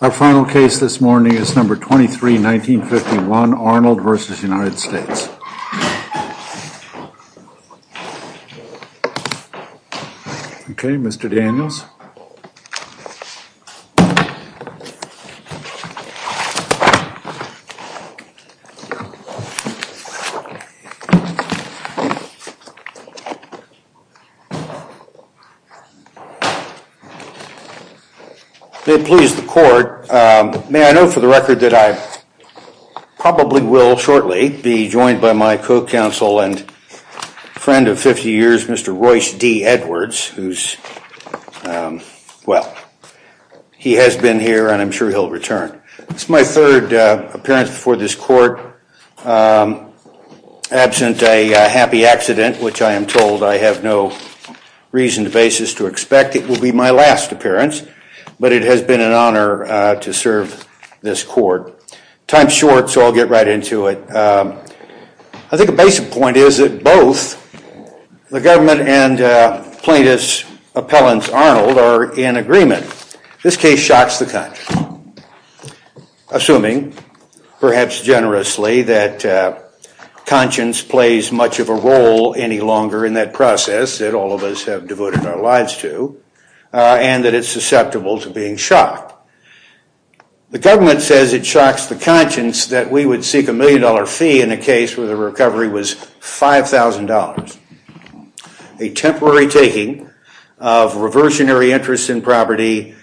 Our final case this morning is No. 23, 1951, Arnold v. United States. Okay, Mr. Daniels. May it please the court, may I note for the record that I probably will shortly be joined by my co-counsel and friend of 50 years, Mr. Royce D. Edwards, who's Well, he has been here and I'm sure he'll return. It's my third appearance before this court, absent a happy accident, which I am told I have no reason or basis to expect. It will be my last appearance, but it has been an honor to serve this court. Time's short, so I'll get right into it. I think a basic point is that both the government and plaintiff's appellant, Arnold, are in agreement. This case shocks the conscience, assuming, perhaps generously, that conscience plays much of a role any longer in that process that all of us have devoted our lives to, and that it's susceptible to being shocked. The government says it shocks the conscience that we would seek a million dollar fee in a case where the recovery was $5,000. A temporary taking of reversionary interest in property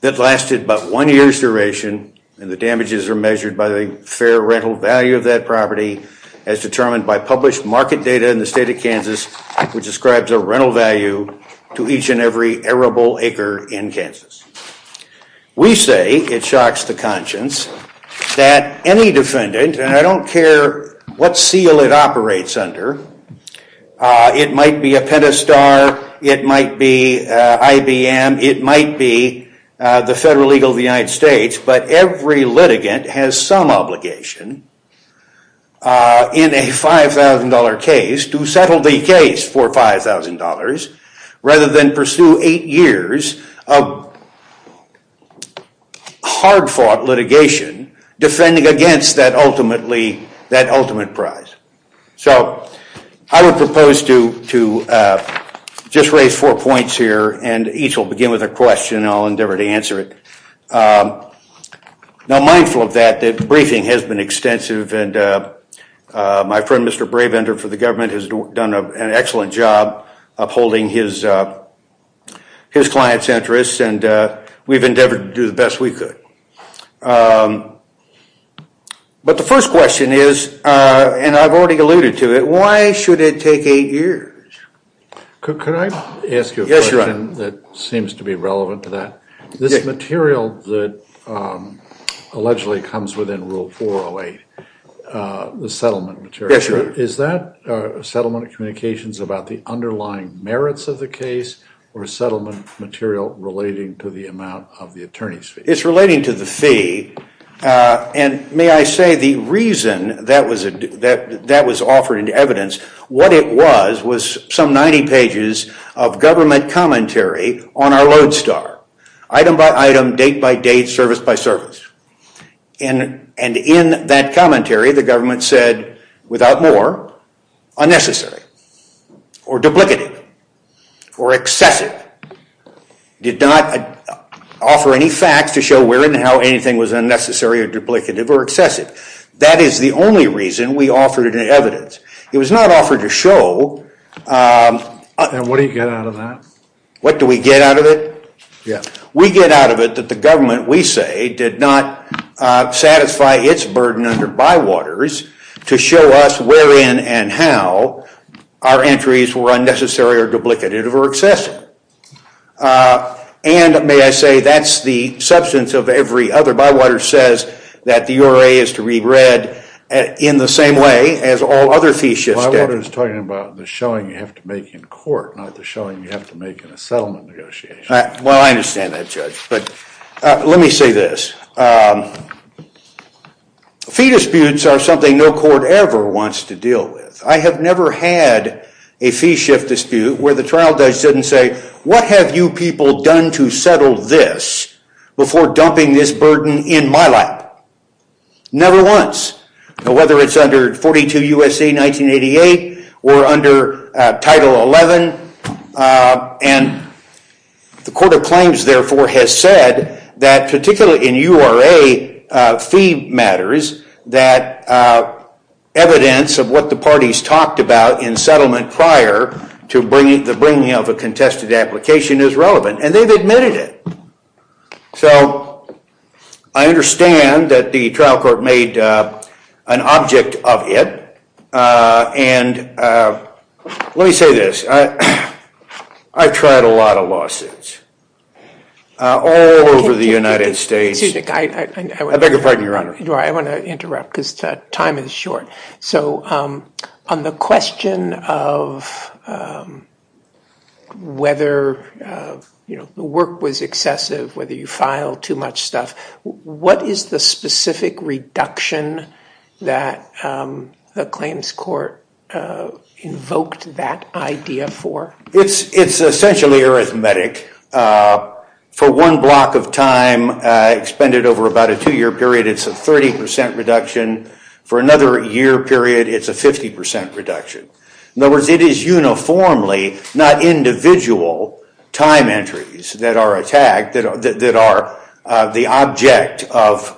that lasted but one year's duration, and the damages are measured by the fair rental value of that property as determined by published market data in the state of Kansas, which describes a rental value to each and every arable acre in Kansas. We say it shocks the conscience that any defendant, and I don't care what seal it operates under, it might be a Pentastar, it might be IBM, it might be the federal legal of the United States, but every litigant has some obligation in a $5,000 case to settle the case for $5,000 rather than pursue eight years of hard-fought litigation defending against that ultimate prize. So I would propose to just raise four points here, and each will begin with a question, and I'll endeavor to answer it. Now, mindful of that, the briefing has been extensive, and my friend Mr. Bravender for the government has done an excellent job upholding his client's interests, and we've endeavored to do the best we could. But the first question is, and I've already alluded to it, why should it take eight years? Could I ask you a question that seems to be relevant to that? This material that allegedly comes within Rule 408, the settlement material, is that settlement communications about the underlying merits of the case or settlement material relating to the amount of the attorney's fee? It's relating to the fee, and may I say the reason that was offered in evidence, what it was, was some 90 pages of government commentary on our Lodestar, item by item, date by date, service by service. And in that commentary, the government said, without more, unnecessary or duplicative or excessive. It did not offer any facts to show where and how anything was unnecessary or duplicative or excessive. That is the only reason we offered it in evidence. It was not offered to show. And what do you get out of that? What do we get out of it? Yeah. We get out of it that the government, we say, did not satisfy its burden under Bywaters to show us wherein and how our entries were unnecessary or duplicative or excessive. And may I say, that's the substance of every other. Bywaters says that the URA is to read red in the same way as all other fees should stay. Bywaters is talking about the showing you have to make in court, not the showing you have to make in a settlement negotiation. Well, I understand that, Judge. But let me say this. Fee disputes are something no court ever wants to deal with. I have never had a fee shift dispute where the trial judge didn't say, what have you people done to settle this before dumping this burden in my lap? Never once. Whether it's under 42 U.S.C. 1988 or under Title 11. And the Court of Claims, therefore, has said that, particularly in URA fee matters, that evidence of what the parties talked about in settlement prior to the bringing of a contested application is relevant. And they've admitted it. So I understand that the trial court made an object of it. And let me say this. I've tried a lot of lawsuits all over the United States. Excuse me. I beg your pardon, Your Honor. I want to interrupt because time is short. So on the question of whether the work was excessive, whether you filed too much stuff, what is the specific reduction that the claims court invoked that idea for? It's essentially arithmetic. For one block of time expended over about a two-year period, it's a 30% reduction. For another year period, it's a 50% reduction. In other words, it is uniformly, not individual, time entries that are the object of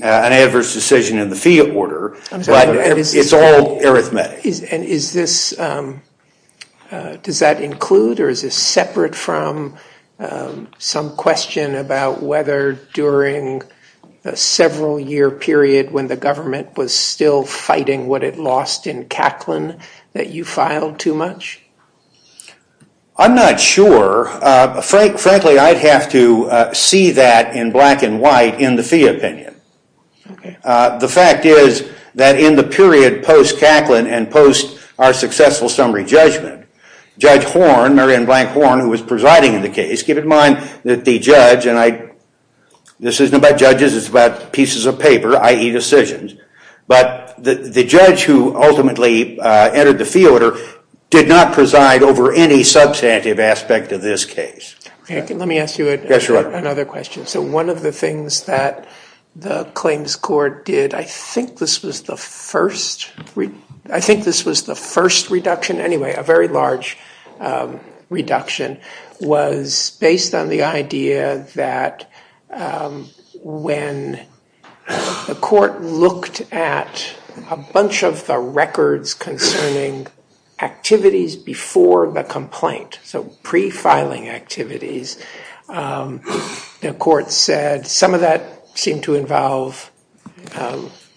an adverse decision in the fee order. It's all arithmetic. And does that include or is this separate from some question about whether during a several-year period when the government was still fighting what it lost in Kaplan that you filed too much? I'm not sure. Frankly, I'd have to see that in black and white in the fee opinion. The fact is that in the period post-Kaplan and post our successful summary judgment, Judge Horn, Marian Blank Horn, who was presiding in the case, keep in mind that the judge, and this isn't about judges. It's about pieces of paper, i.e. decisions. But the judge who ultimately entered the fee order did not preside over any substantive aspect of this case. Let me ask you another question. So one of the things that the claims court did, I think this was the first reduction, anyway, a very large reduction, was based on the idea that when the court looked at a bunch of the records concerning activities before the complaint, so pre-filing activities, the court said some of that seemed to involve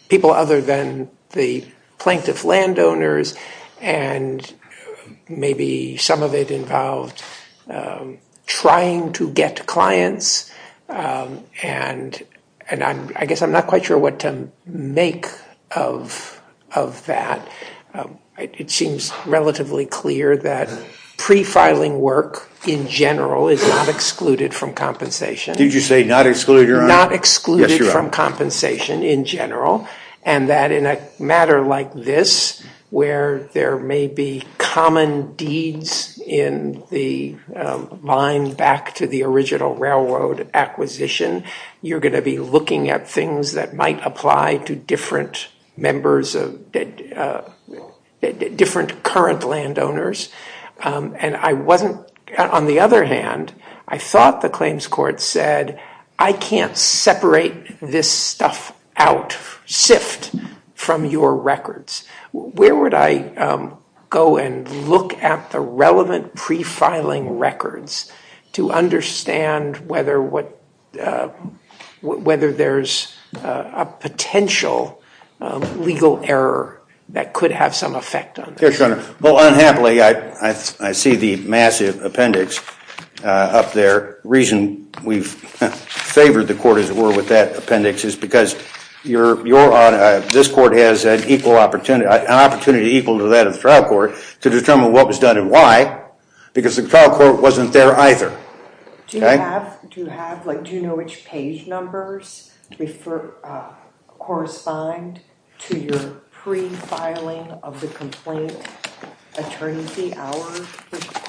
people other than the plaintiff landowners. And maybe some of it involved trying to get clients. And I guess I'm not quite sure what to make of that. It seems relatively clear that pre-filing work in general is not excluded from compensation. Did you say not excluded, Your Honor? Not excluded from compensation in general. And that in a matter like this, where there may be common deeds in the line back to the original railroad acquisition, you're going to be looking at things that might apply to different current landowners. And on the other hand, I thought the claims court said, I can't separate this stuff out, sift, from your records. Where would I go and look at the relevant pre-filing records to understand whether there's a potential legal error that could have some effect on this? Well, unhappily, I see the massive appendix up there. The reason we've favored the court, as it were, with that appendix is because this court has an opportunity equal to that of the trial court to determine what was done and why. Because the trial court wasn't there either. Do you know which page numbers correspond to your pre-filing of the complaint attorney fee hour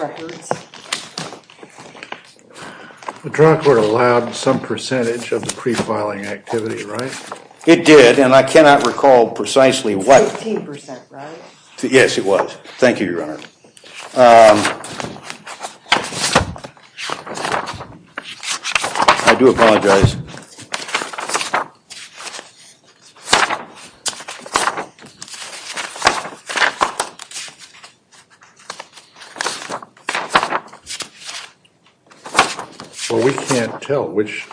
records? The trial court allowed some percentage of the pre-filing activity, right? It did. And I cannot recall precisely what. 15%, right? Yes, it was. Thank you, Your Honor. I do apologize. Well, we can't tell which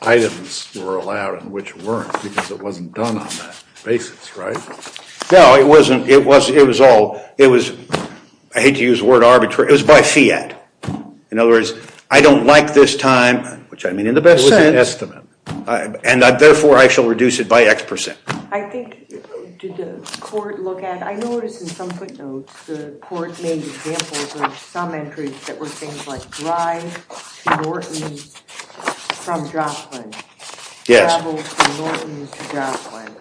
items were allowed and which weren't because it wasn't done on that basis, right? No, it wasn't. It was all, it was, I hate to use the word arbitrary, it was by fiat. In other words, I don't like this time, which I mean in the best sense. It was an estimate. And therefore, I shall reduce it by X percent. I think, did the court look at, I noticed in some footnotes, the court made examples of some entries that were things like drive to Norton's from Joplin. Yes. Travel from Norton's to Joplin.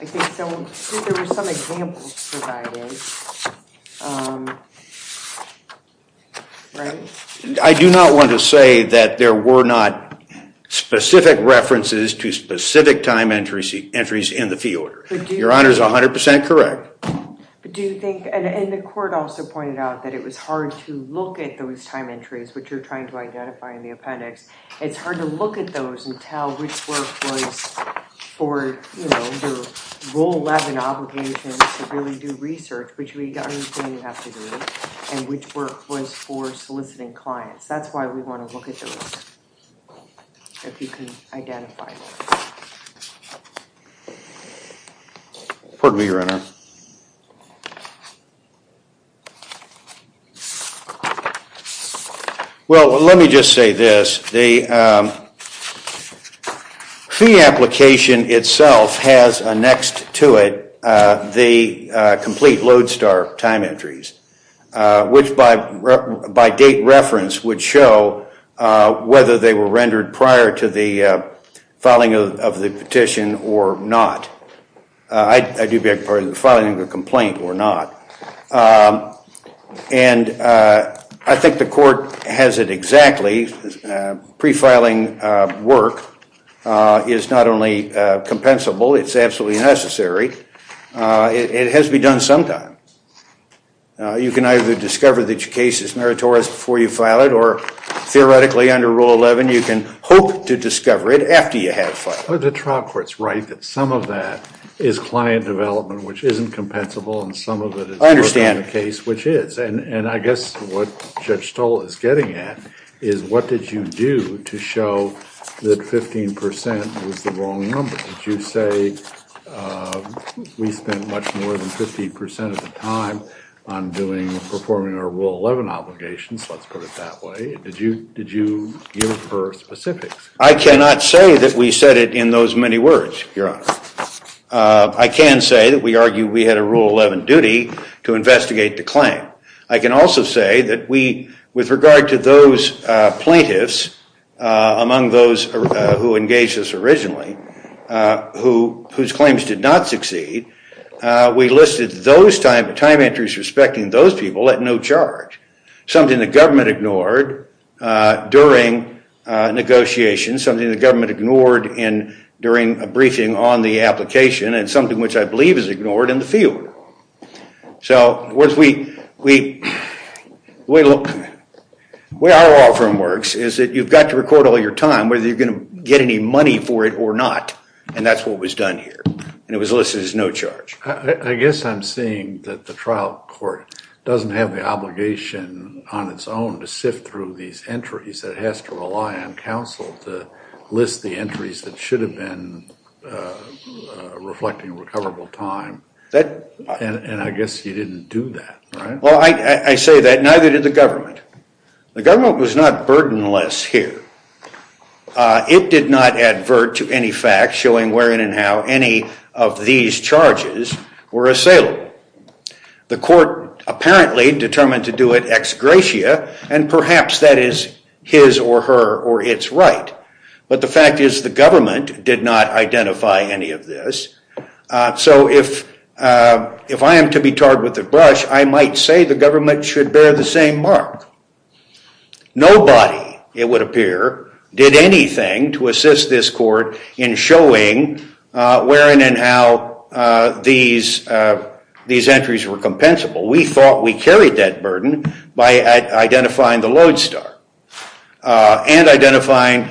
I think there were some examples provided, right? I do not want to say that there were not specific references to specific time entries in the fee order. Your Honor is 100% correct. But do you think, and the court also pointed out that it was hard to look at those time entries, which you're trying to identify in the appendix. It's hard to look at those and tell which work was for, you know, your Rule 11 obligation to really do research, which we understand you have to do, and which work was for soliciting clients. That's why we want to look at those, if you can identify those. Pardon me, Your Honor. Your Honor. Well, let me just say this. The fee application itself has next to it the complete Lodestar time entries, which by date reference would show whether they were rendered prior to the filing of the petition or not. I do beg your pardon. The filing of the complaint or not. And I think the court has it exactly. Pre-filing work is not only compensable, it's absolutely necessary. It has to be done sometimes. You can either discover that your case is meritorious before you file it, or theoretically under Rule 11, you can hope to discover it after you have filed it. The trial court's right that some of that is client development, which isn't compensable, and some of it is working in the case, which is. And I guess what Judge Stoll is getting at is what did you do to show that 15% was the wrong number? Did you say we spent much more than 50% of the time on performing our Rule 11 obligations, let's put it that way? Did you give her specifics? I cannot say that we said it in those many words, Your Honor. I can say that we argue we had a Rule 11 duty to investigate the claim. I can also say that with regard to those plaintiffs, among those who engaged us originally, whose claims did not succeed, we listed time entries respecting those people at no charge. Something the government ignored during negotiations, something the government ignored during a briefing on the application, and something which I believe is ignored in the field. So the way our law firm works is that you've got to record all your time, whether you're going to get any money for it or not. And that's what was done here. And it was listed as no charge. I guess I'm seeing that the trial court doesn't have the obligation on its own to sift through these entries. It has to rely on counsel to list the entries that should have been reflecting recoverable time. And I guess you didn't do that, right? Well, I say that neither did the government. The government was not burdenless here. It did not advert to any facts showing wherein and how any of these charges were assailable. The court apparently determined to do it ex gratia, and perhaps that is his or her or its right. But the fact is the government did not identify any of this. So if I am to be tarred with a brush, I might say the government should bear the same mark. Nobody, it would appear, did anything to assist this court in showing wherein and how these entries were compensable. We thought we carried that burden by identifying the lodestar and identifying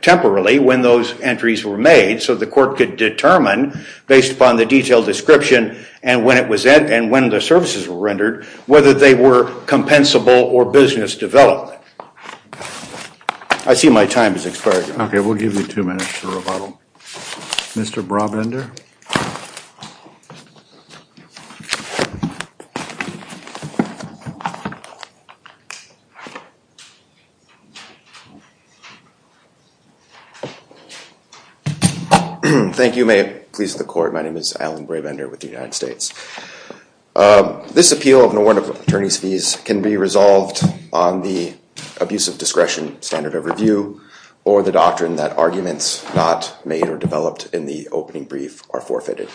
temporarily when those entries were made so the court could determine based upon the detailed description and when the services were rendered whether they were compensable or business developed. I see my time has expired. Okay, we'll give you two minutes for rebuttal. Mr. Brabender? Thank you. May it please the court, my name is Alan Brabender with the United States. This appeal of an award of attorney's fees can be resolved on the abuse of discretion standard of review or the doctrine that arguments not made or developed in the opening brief are forfeited.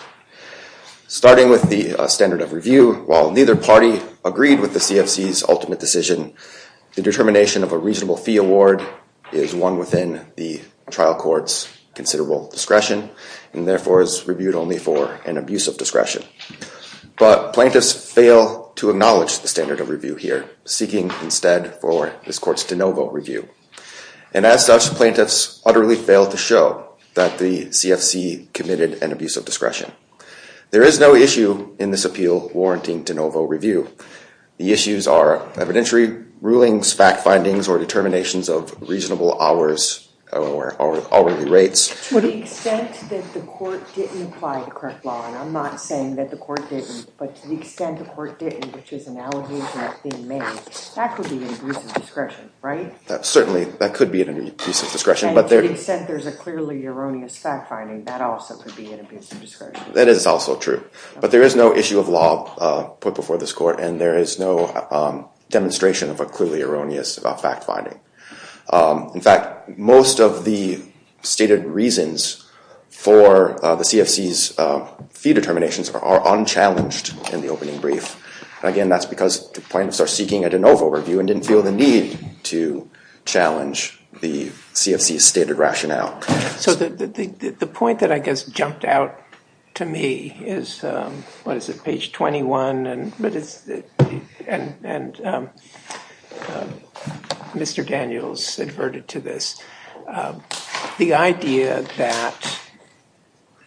Starting with the standard of review, while neither party agreed with the CFC's ultimate decision, the determination of a reasonable fee award is one within the trial court's considerable discretion and therefore is reviewed only for an abuse of discretion. But plaintiffs fail to acknowledge the standard of review here, seeking instead for this court's de novo review. And as such, plaintiffs utterly fail to show that the CFC committed an abuse of discretion. There is no issue in this appeal warranting de novo review. The issues are evidentiary rulings, fact findings, or determinations of reasonable hours or hourly rates. To the extent that the court didn't apply the correct law, and I'm not saying that the court didn't, but to the extent the court didn't, which is an allegation of being made, that could be an abuse of discretion, right? Certainly, that could be an abuse of discretion. And to the extent there's a clearly erroneous fact finding, that also could be an abuse of discretion. That is also true. But there is no issue of law put before this court, and there is no demonstration of a clearly erroneous fact finding. In fact, most of the stated reasons for the CFC's fee determinations are unchallenged in the opening brief. Again, that's because the plaintiffs are seeking a de novo review and didn't feel the need to challenge the CFC's stated rationale. So the point that I guess jumped out to me is, what is it, page 21? And Mr. Daniels adverted to this. The idea that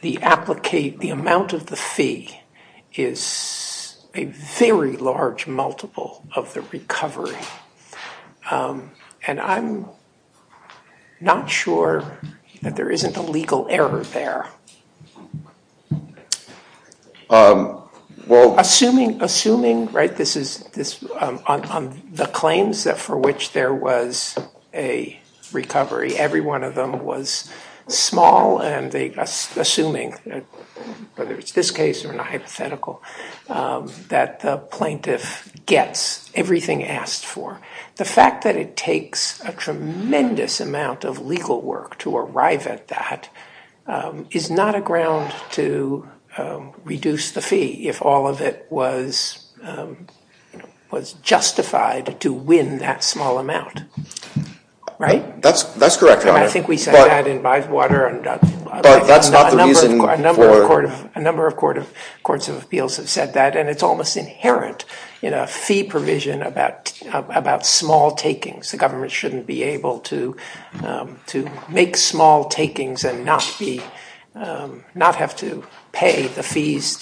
the amount of the fee is a very large multiple of the recovery. And I'm not sure that there isn't a legal error there. Assuming, right, on the claims for which there was a recovery, every one of them was small, and assuming, whether it's this case or a hypothetical, that the plaintiff gets everything asked for, the fact that it takes a tremendous amount of legal work to arrive at that is not a ground to reduce the fee if all of it was justified to win that small amount. Right? That's correct, Your Honor. I think we said that in Bywater. But that's not the reason for— A number of courts of appeals have said that, and it's almost inherent in a fee provision about small takings. The government shouldn't be able to make small takings and not have to pay the fees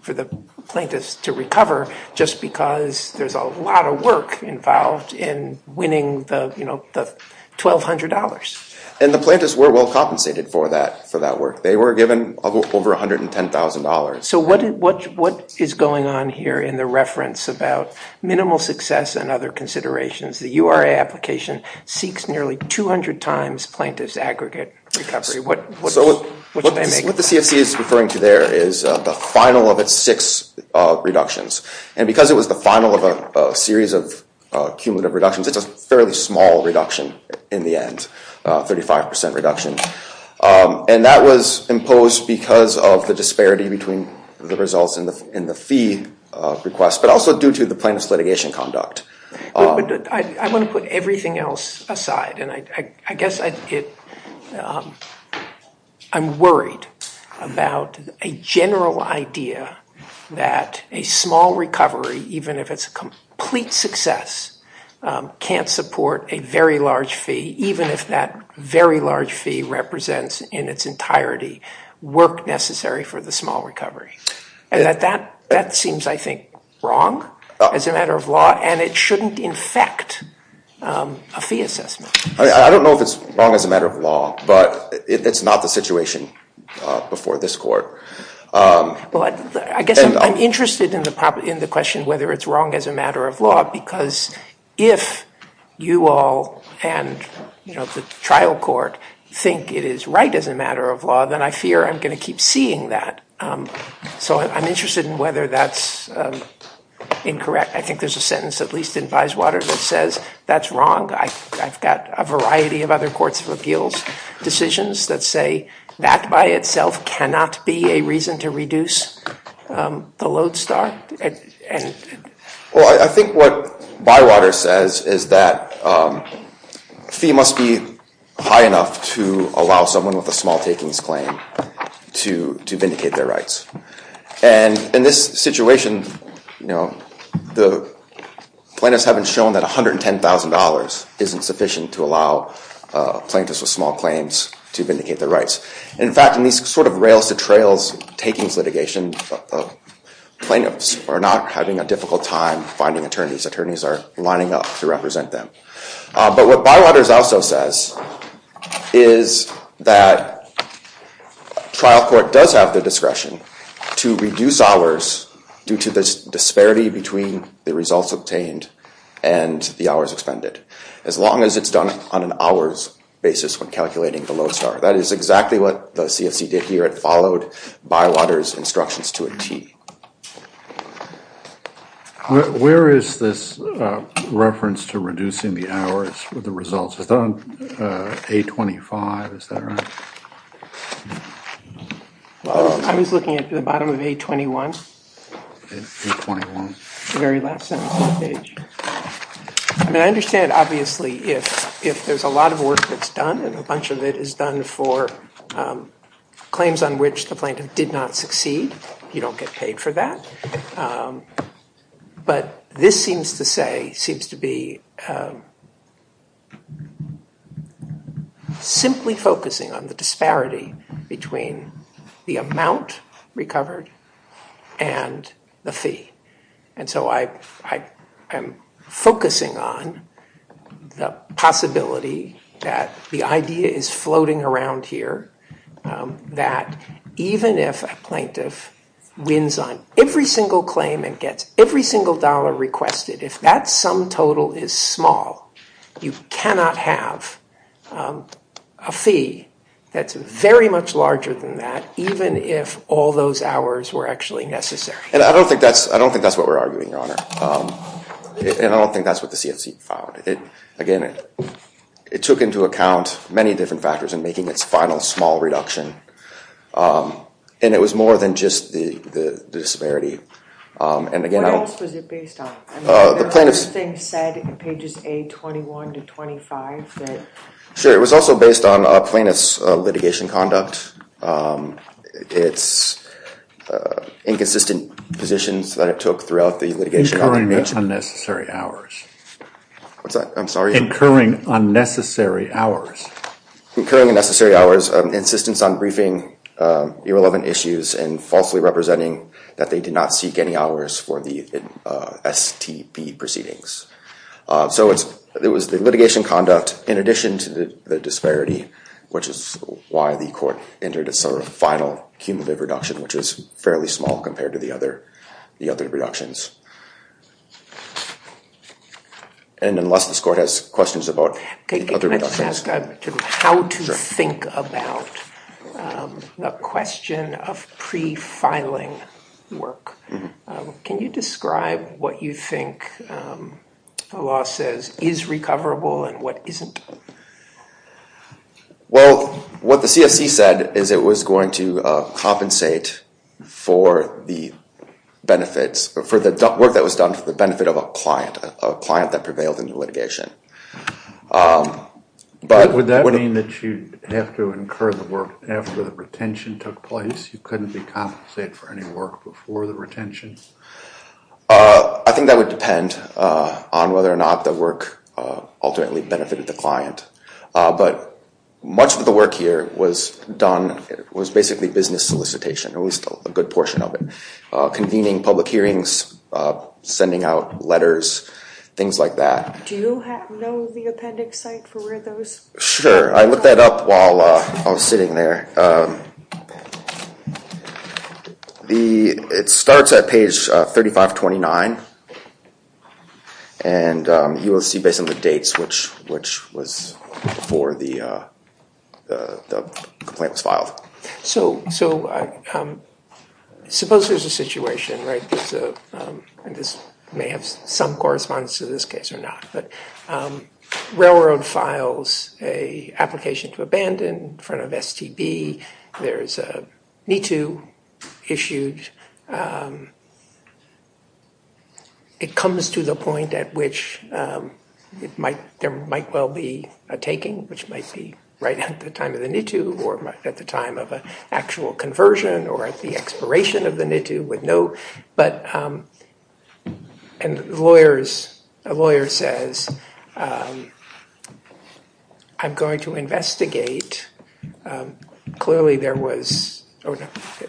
for the plaintiffs to recover just because there's a lot of work involved in winning the $1,200. And the plaintiffs were well compensated for that work. They were given over $110,000. So what is going on here in the reference about minimal success and other considerations? The URA application seeks nearly 200 times plaintiff's aggregate recovery. So what the CFC is referring to there is the final of its six reductions. And because it was the final of a series of cumulative reductions, it's a fairly small reduction in the end, a 35% reduction. And that was imposed because of the disparity between the results in the fee request, but also due to the plaintiff's litigation conduct. I want to put everything else aside, and I guess I'm worried about a general idea that a small recovery, even if it's a complete success, can't support a very large fee, even if that very large fee represents in its entirety work necessary for the small recovery. And that seems, I think, wrong as a matter of law, and it shouldn't infect a fee assessment. I don't know if it's wrong as a matter of law, but it's not the situation before this court. Well, I guess I'm interested in the question whether it's wrong as a matter of law, because if you all and the trial court think it is right as a matter of law, then I fear I'm going to keep seeing that. So I'm interested in whether that's incorrect. I think there's a sentence, at least in Byeswater, that says that's wrong. I've got a variety of other courts of appeals decisions that say that by itself cannot be a reason to reduce the load star. Well, I think what Bywater says is that a fee must be high enough to allow someone with a small takings claim to vindicate their rights. And in this situation, the plaintiffs haven't shown that $110,000 isn't sufficient to allow plaintiffs with small claims to vindicate their rights. And in fact, in these sort of rails-to-trails takings litigation, the plaintiffs are not having a difficult time finding attorneys. Attorneys are lining up to represent them. But what Bywater also says is that trial court does have the discretion to reduce hours due to the disparity between the results obtained and the hours expended, as long as it's done on an hours basis when calculating the load star. That is exactly what the CFC did here. It followed Bywater's instructions to a T. Where is this reference to reducing the hours with the results? Is it on A25? Is that right? I was looking at the bottom of A21. A21. The very last sentence of the page. I mean, I understand, obviously, if there's a lot of work that's done and a bunch of it is done for claims on which the plaintiff did not succeed, you don't get paid for that. But this seems to be simply focusing on the disparity between the amount recovered and the fee. And so I am focusing on the possibility that the idea is floating around here that even if a plaintiff wins on every single claim and gets every single dollar requested, if that sum total is small, you cannot have a fee that's very much larger than that, even if all those hours were actually necessary. And I don't think that's what we're arguing, Your Honor. And I don't think that's what the CFC found. Again, it took into account many different factors in making its final small reduction. And it was more than just the disparity. What else was it based on? The plaintiff's thing said in pages A21 to 25. Sure. It was also based on plaintiff's litigation conduct, its inconsistent positions that it took throughout the litigation. Incurring unnecessary hours. What's that? I'm sorry? Incurring unnecessary hours. Incurring unnecessary hours, insistence on briefing irrelevant issues and falsely representing that they did not seek any hours for the STP proceedings. So it was the litigation conduct in addition to the disparity, which is why the court entered its final cumulative reduction, which is fairly small compared to the other reductions. And unless this court has questions about the other reductions. Can I just ask how to think about the question of pre-filing work? Can you describe what you think the law says is recoverable and what isn't? Well, what the CSC said is it was going to compensate for the benefits, for the work that was done for the benefit of a client, a client that prevailed in the litigation. Would that mean that you have to incur the work after the retention took place? You couldn't be compensated for any work before the retention? I think that would depend on whether or not the work ultimately benefited the client. But much of the work here was done, was basically business solicitation, at least a good portion of it. Convening public hearings, sending out letters, things like that. Do you know the appendix site for where those? Sure. I looked that up while I was sitting there. It starts at page 3529, and you will see based on the dates, which was before the complaint was filed. So suppose there's a situation, right? This may have some correspondence to this case or not. Railroad files an application to abandon in front of STB, there's a NITU issued. It comes to the point at which there might well be a taking, which might be right at the time of the NITU or at the time of an actual conversion or at the expiration of the NITU. But a lawyer says, I'm going to investigate.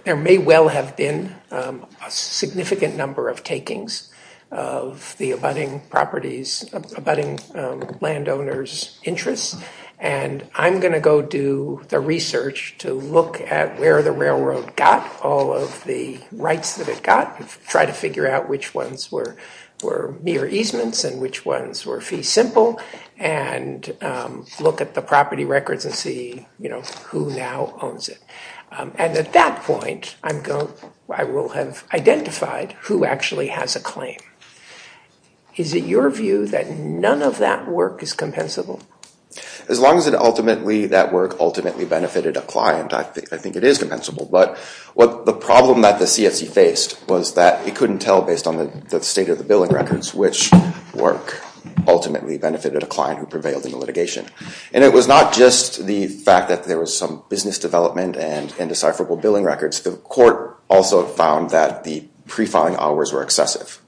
There may well have been a significant number of takings of the abutting landowners' interests. And I'm going to go do the research to look at where the railroad got all of the rights that it got. Try to figure out which ones were mere easements and which ones were fee simple. And look at the property records and see who now owns it. And at that point, I will have identified who actually has a claim. Is it your view that none of that work is compensable? As long as that work ultimately benefited a client, I think it is compensable. But the problem that the CFC faced was that it couldn't tell, based on the state of the billing records, which work ultimately benefited a client who prevailed in the litigation. And it was not just the fact that there was some business development and indecipherable billing records. The court also found that the pre-filing hours were excessive.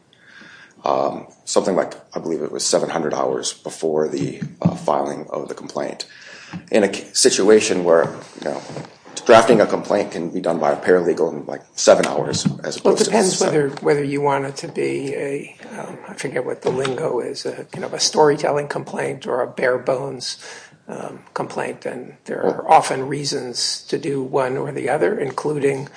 Something like, I believe it was 700 hours before the filing of the complaint. In a situation where drafting a complaint can be done by a paralegal in seven hours. Well, it depends whether you want it to be a, I forget what the lingo is, a storytelling complaint or a bare bones complaint. And there are often reasons to do one or the other, including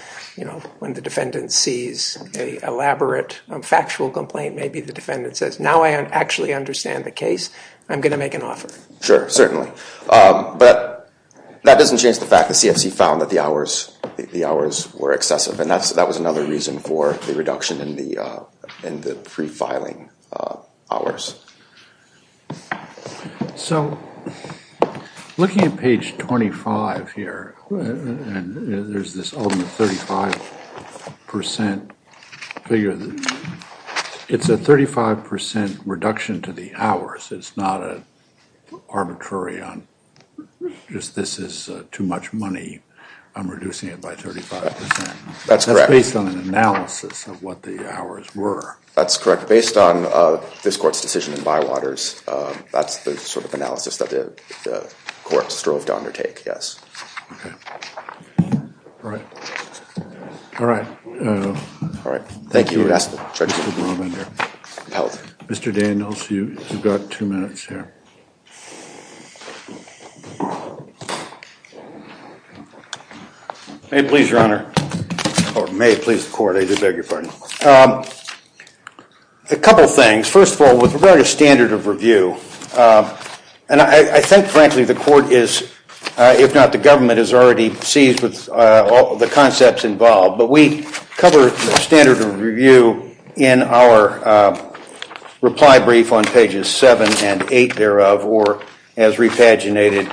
when the defendant sees an elaborate factual complaint. Maybe the defendant says, now I actually understand the case. I'm going to make an offer. Sure, certainly. But that doesn't change the fact that CFC found that the hours were excessive. And that was another reason for the reduction in the pre-filing hours. So, looking at page 25 here, there's this ultimate 35% figure. It's a 35% reduction to the hours. It's not an arbitrary on, just this is too much money. I'm reducing it by 35%. That's correct. That's based on an analysis of what the hours were. That's correct. Based on this court's decision in Bywaters, that's the sort of analysis that the court strove to undertake, yes. Okay. All right. All right. Thank you. Thank you. Mr. Daniels, you've got two minutes here. May it please the court, I do beg your pardon. A couple things. First of all, with regard to standard of review, and I think, frankly, the court is, if not the government, is already seized with the concepts involved. But we cover standard of review in our reply brief on pages 7 and 8 thereof, or as repaginated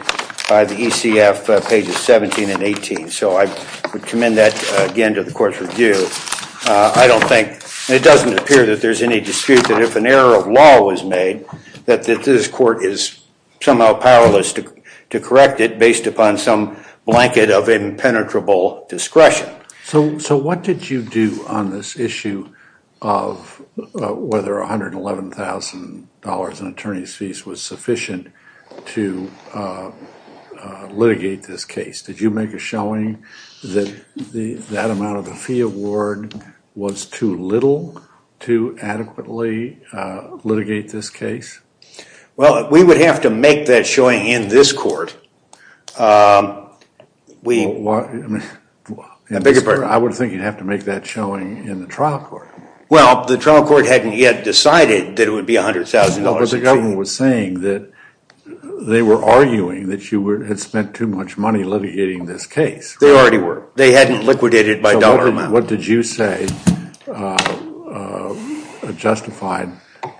by the ECF pages 17 and 18. So I would commend that, again, to the court's review. I don't think, and it doesn't appear that there's any dispute, that if an error of law was made, that this court is somehow powerless to correct it based upon some blanket of impenetrable discretion. So what did you do on this issue of whether $111,000 in attorney's fees was sufficient to litigate this case? Did you make a showing that that amount of the fee award was too little to adequately litigate this case? Well, we would have to make that showing in this court. I beg your pardon? I would think you'd have to make that showing in the trial court. Well, the trial court hadn't yet decided that it would be $100,000. No, but the government was saying that they were arguing that you had spent too much money litigating this case. They already were. They hadn't liquidated it by dollar amount. What did you say justified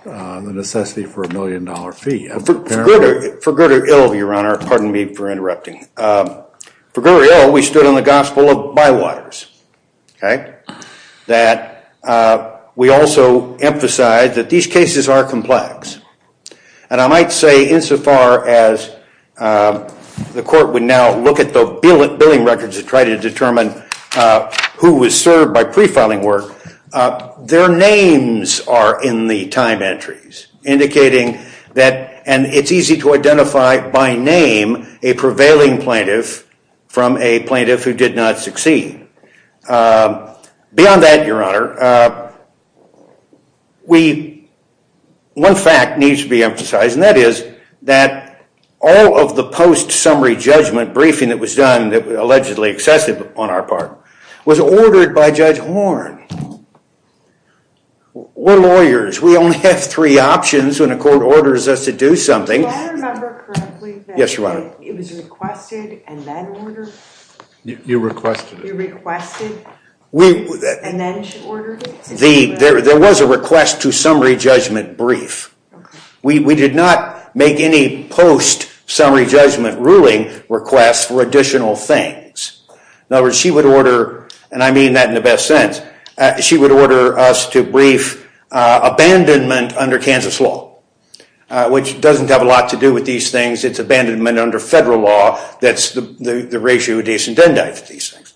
the necessity for a million dollar fee? For good or ill, Your Honor, pardon me for interrupting. For good or ill, we stood on the gospel of bywaters, that we also emphasize that these cases are complex. And I might say, insofar as the court would now look at the billing records to try to determine who was served by pre-filing work, their names are in the time entries, indicating that it's easy to identify, by name, a prevailing plaintiff from a plaintiff who did not succeed. Beyond that, Your Honor, one fact needs to be emphasized, and that is that all of the post-summary judgment briefing that was done that was allegedly excessive on our part was ordered by Judge Horne. We're lawyers. We only have three options when a court orders us to do something. Do I remember correctly that it was requested and then ordered? You requested it. You requested and then ordered it? There was a request to summary judgment brief. We did not make any post-summary judgment ruling requests for additional things. In other words, she would order, and I mean that in the best sense, she would order us to brief abandonment under Kansas law, which doesn't have a lot to do with these things. It's abandonment under federal law that's the ratio of decent and decent.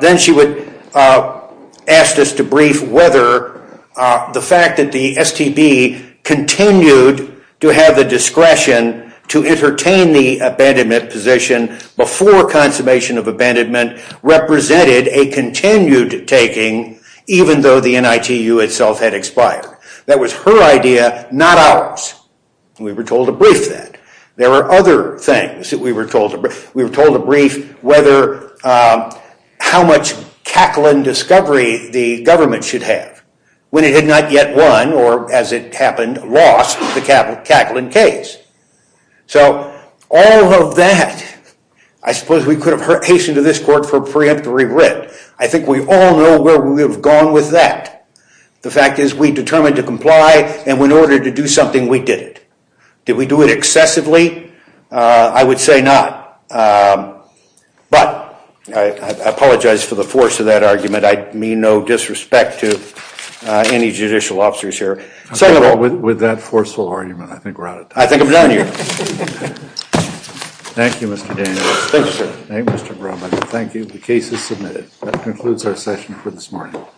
Then she would ask us to brief whether the fact that the STB continued to have the discretion to entertain in the abandonment position before consummation of abandonment represented a continued taking, even though the NITU itself had expired. That was her idea, not ours. We were told to brief that. There were other things that we were told to brief. We were told to brief how much Kaplan discovery the government should have when it had not yet won, or as it happened, lost the Kaplan case. So all of that, I suppose we could have hastened to this court for preemptory writ. I think we all know where we have gone with that. The fact is we determined to comply, and in order to do something, we did it. Did we do it excessively? I would say not. But I apologize for the force of that argument. I mean no disrespect to any judicial officers here. Second of all, with that forceful argument, I think we're out of time. I think I'm done here. Thank you, Mr. Daniels. Thank you, sir. Thank you, Mr. Bromley. Thank you. The case is submitted. That concludes our session for this morning.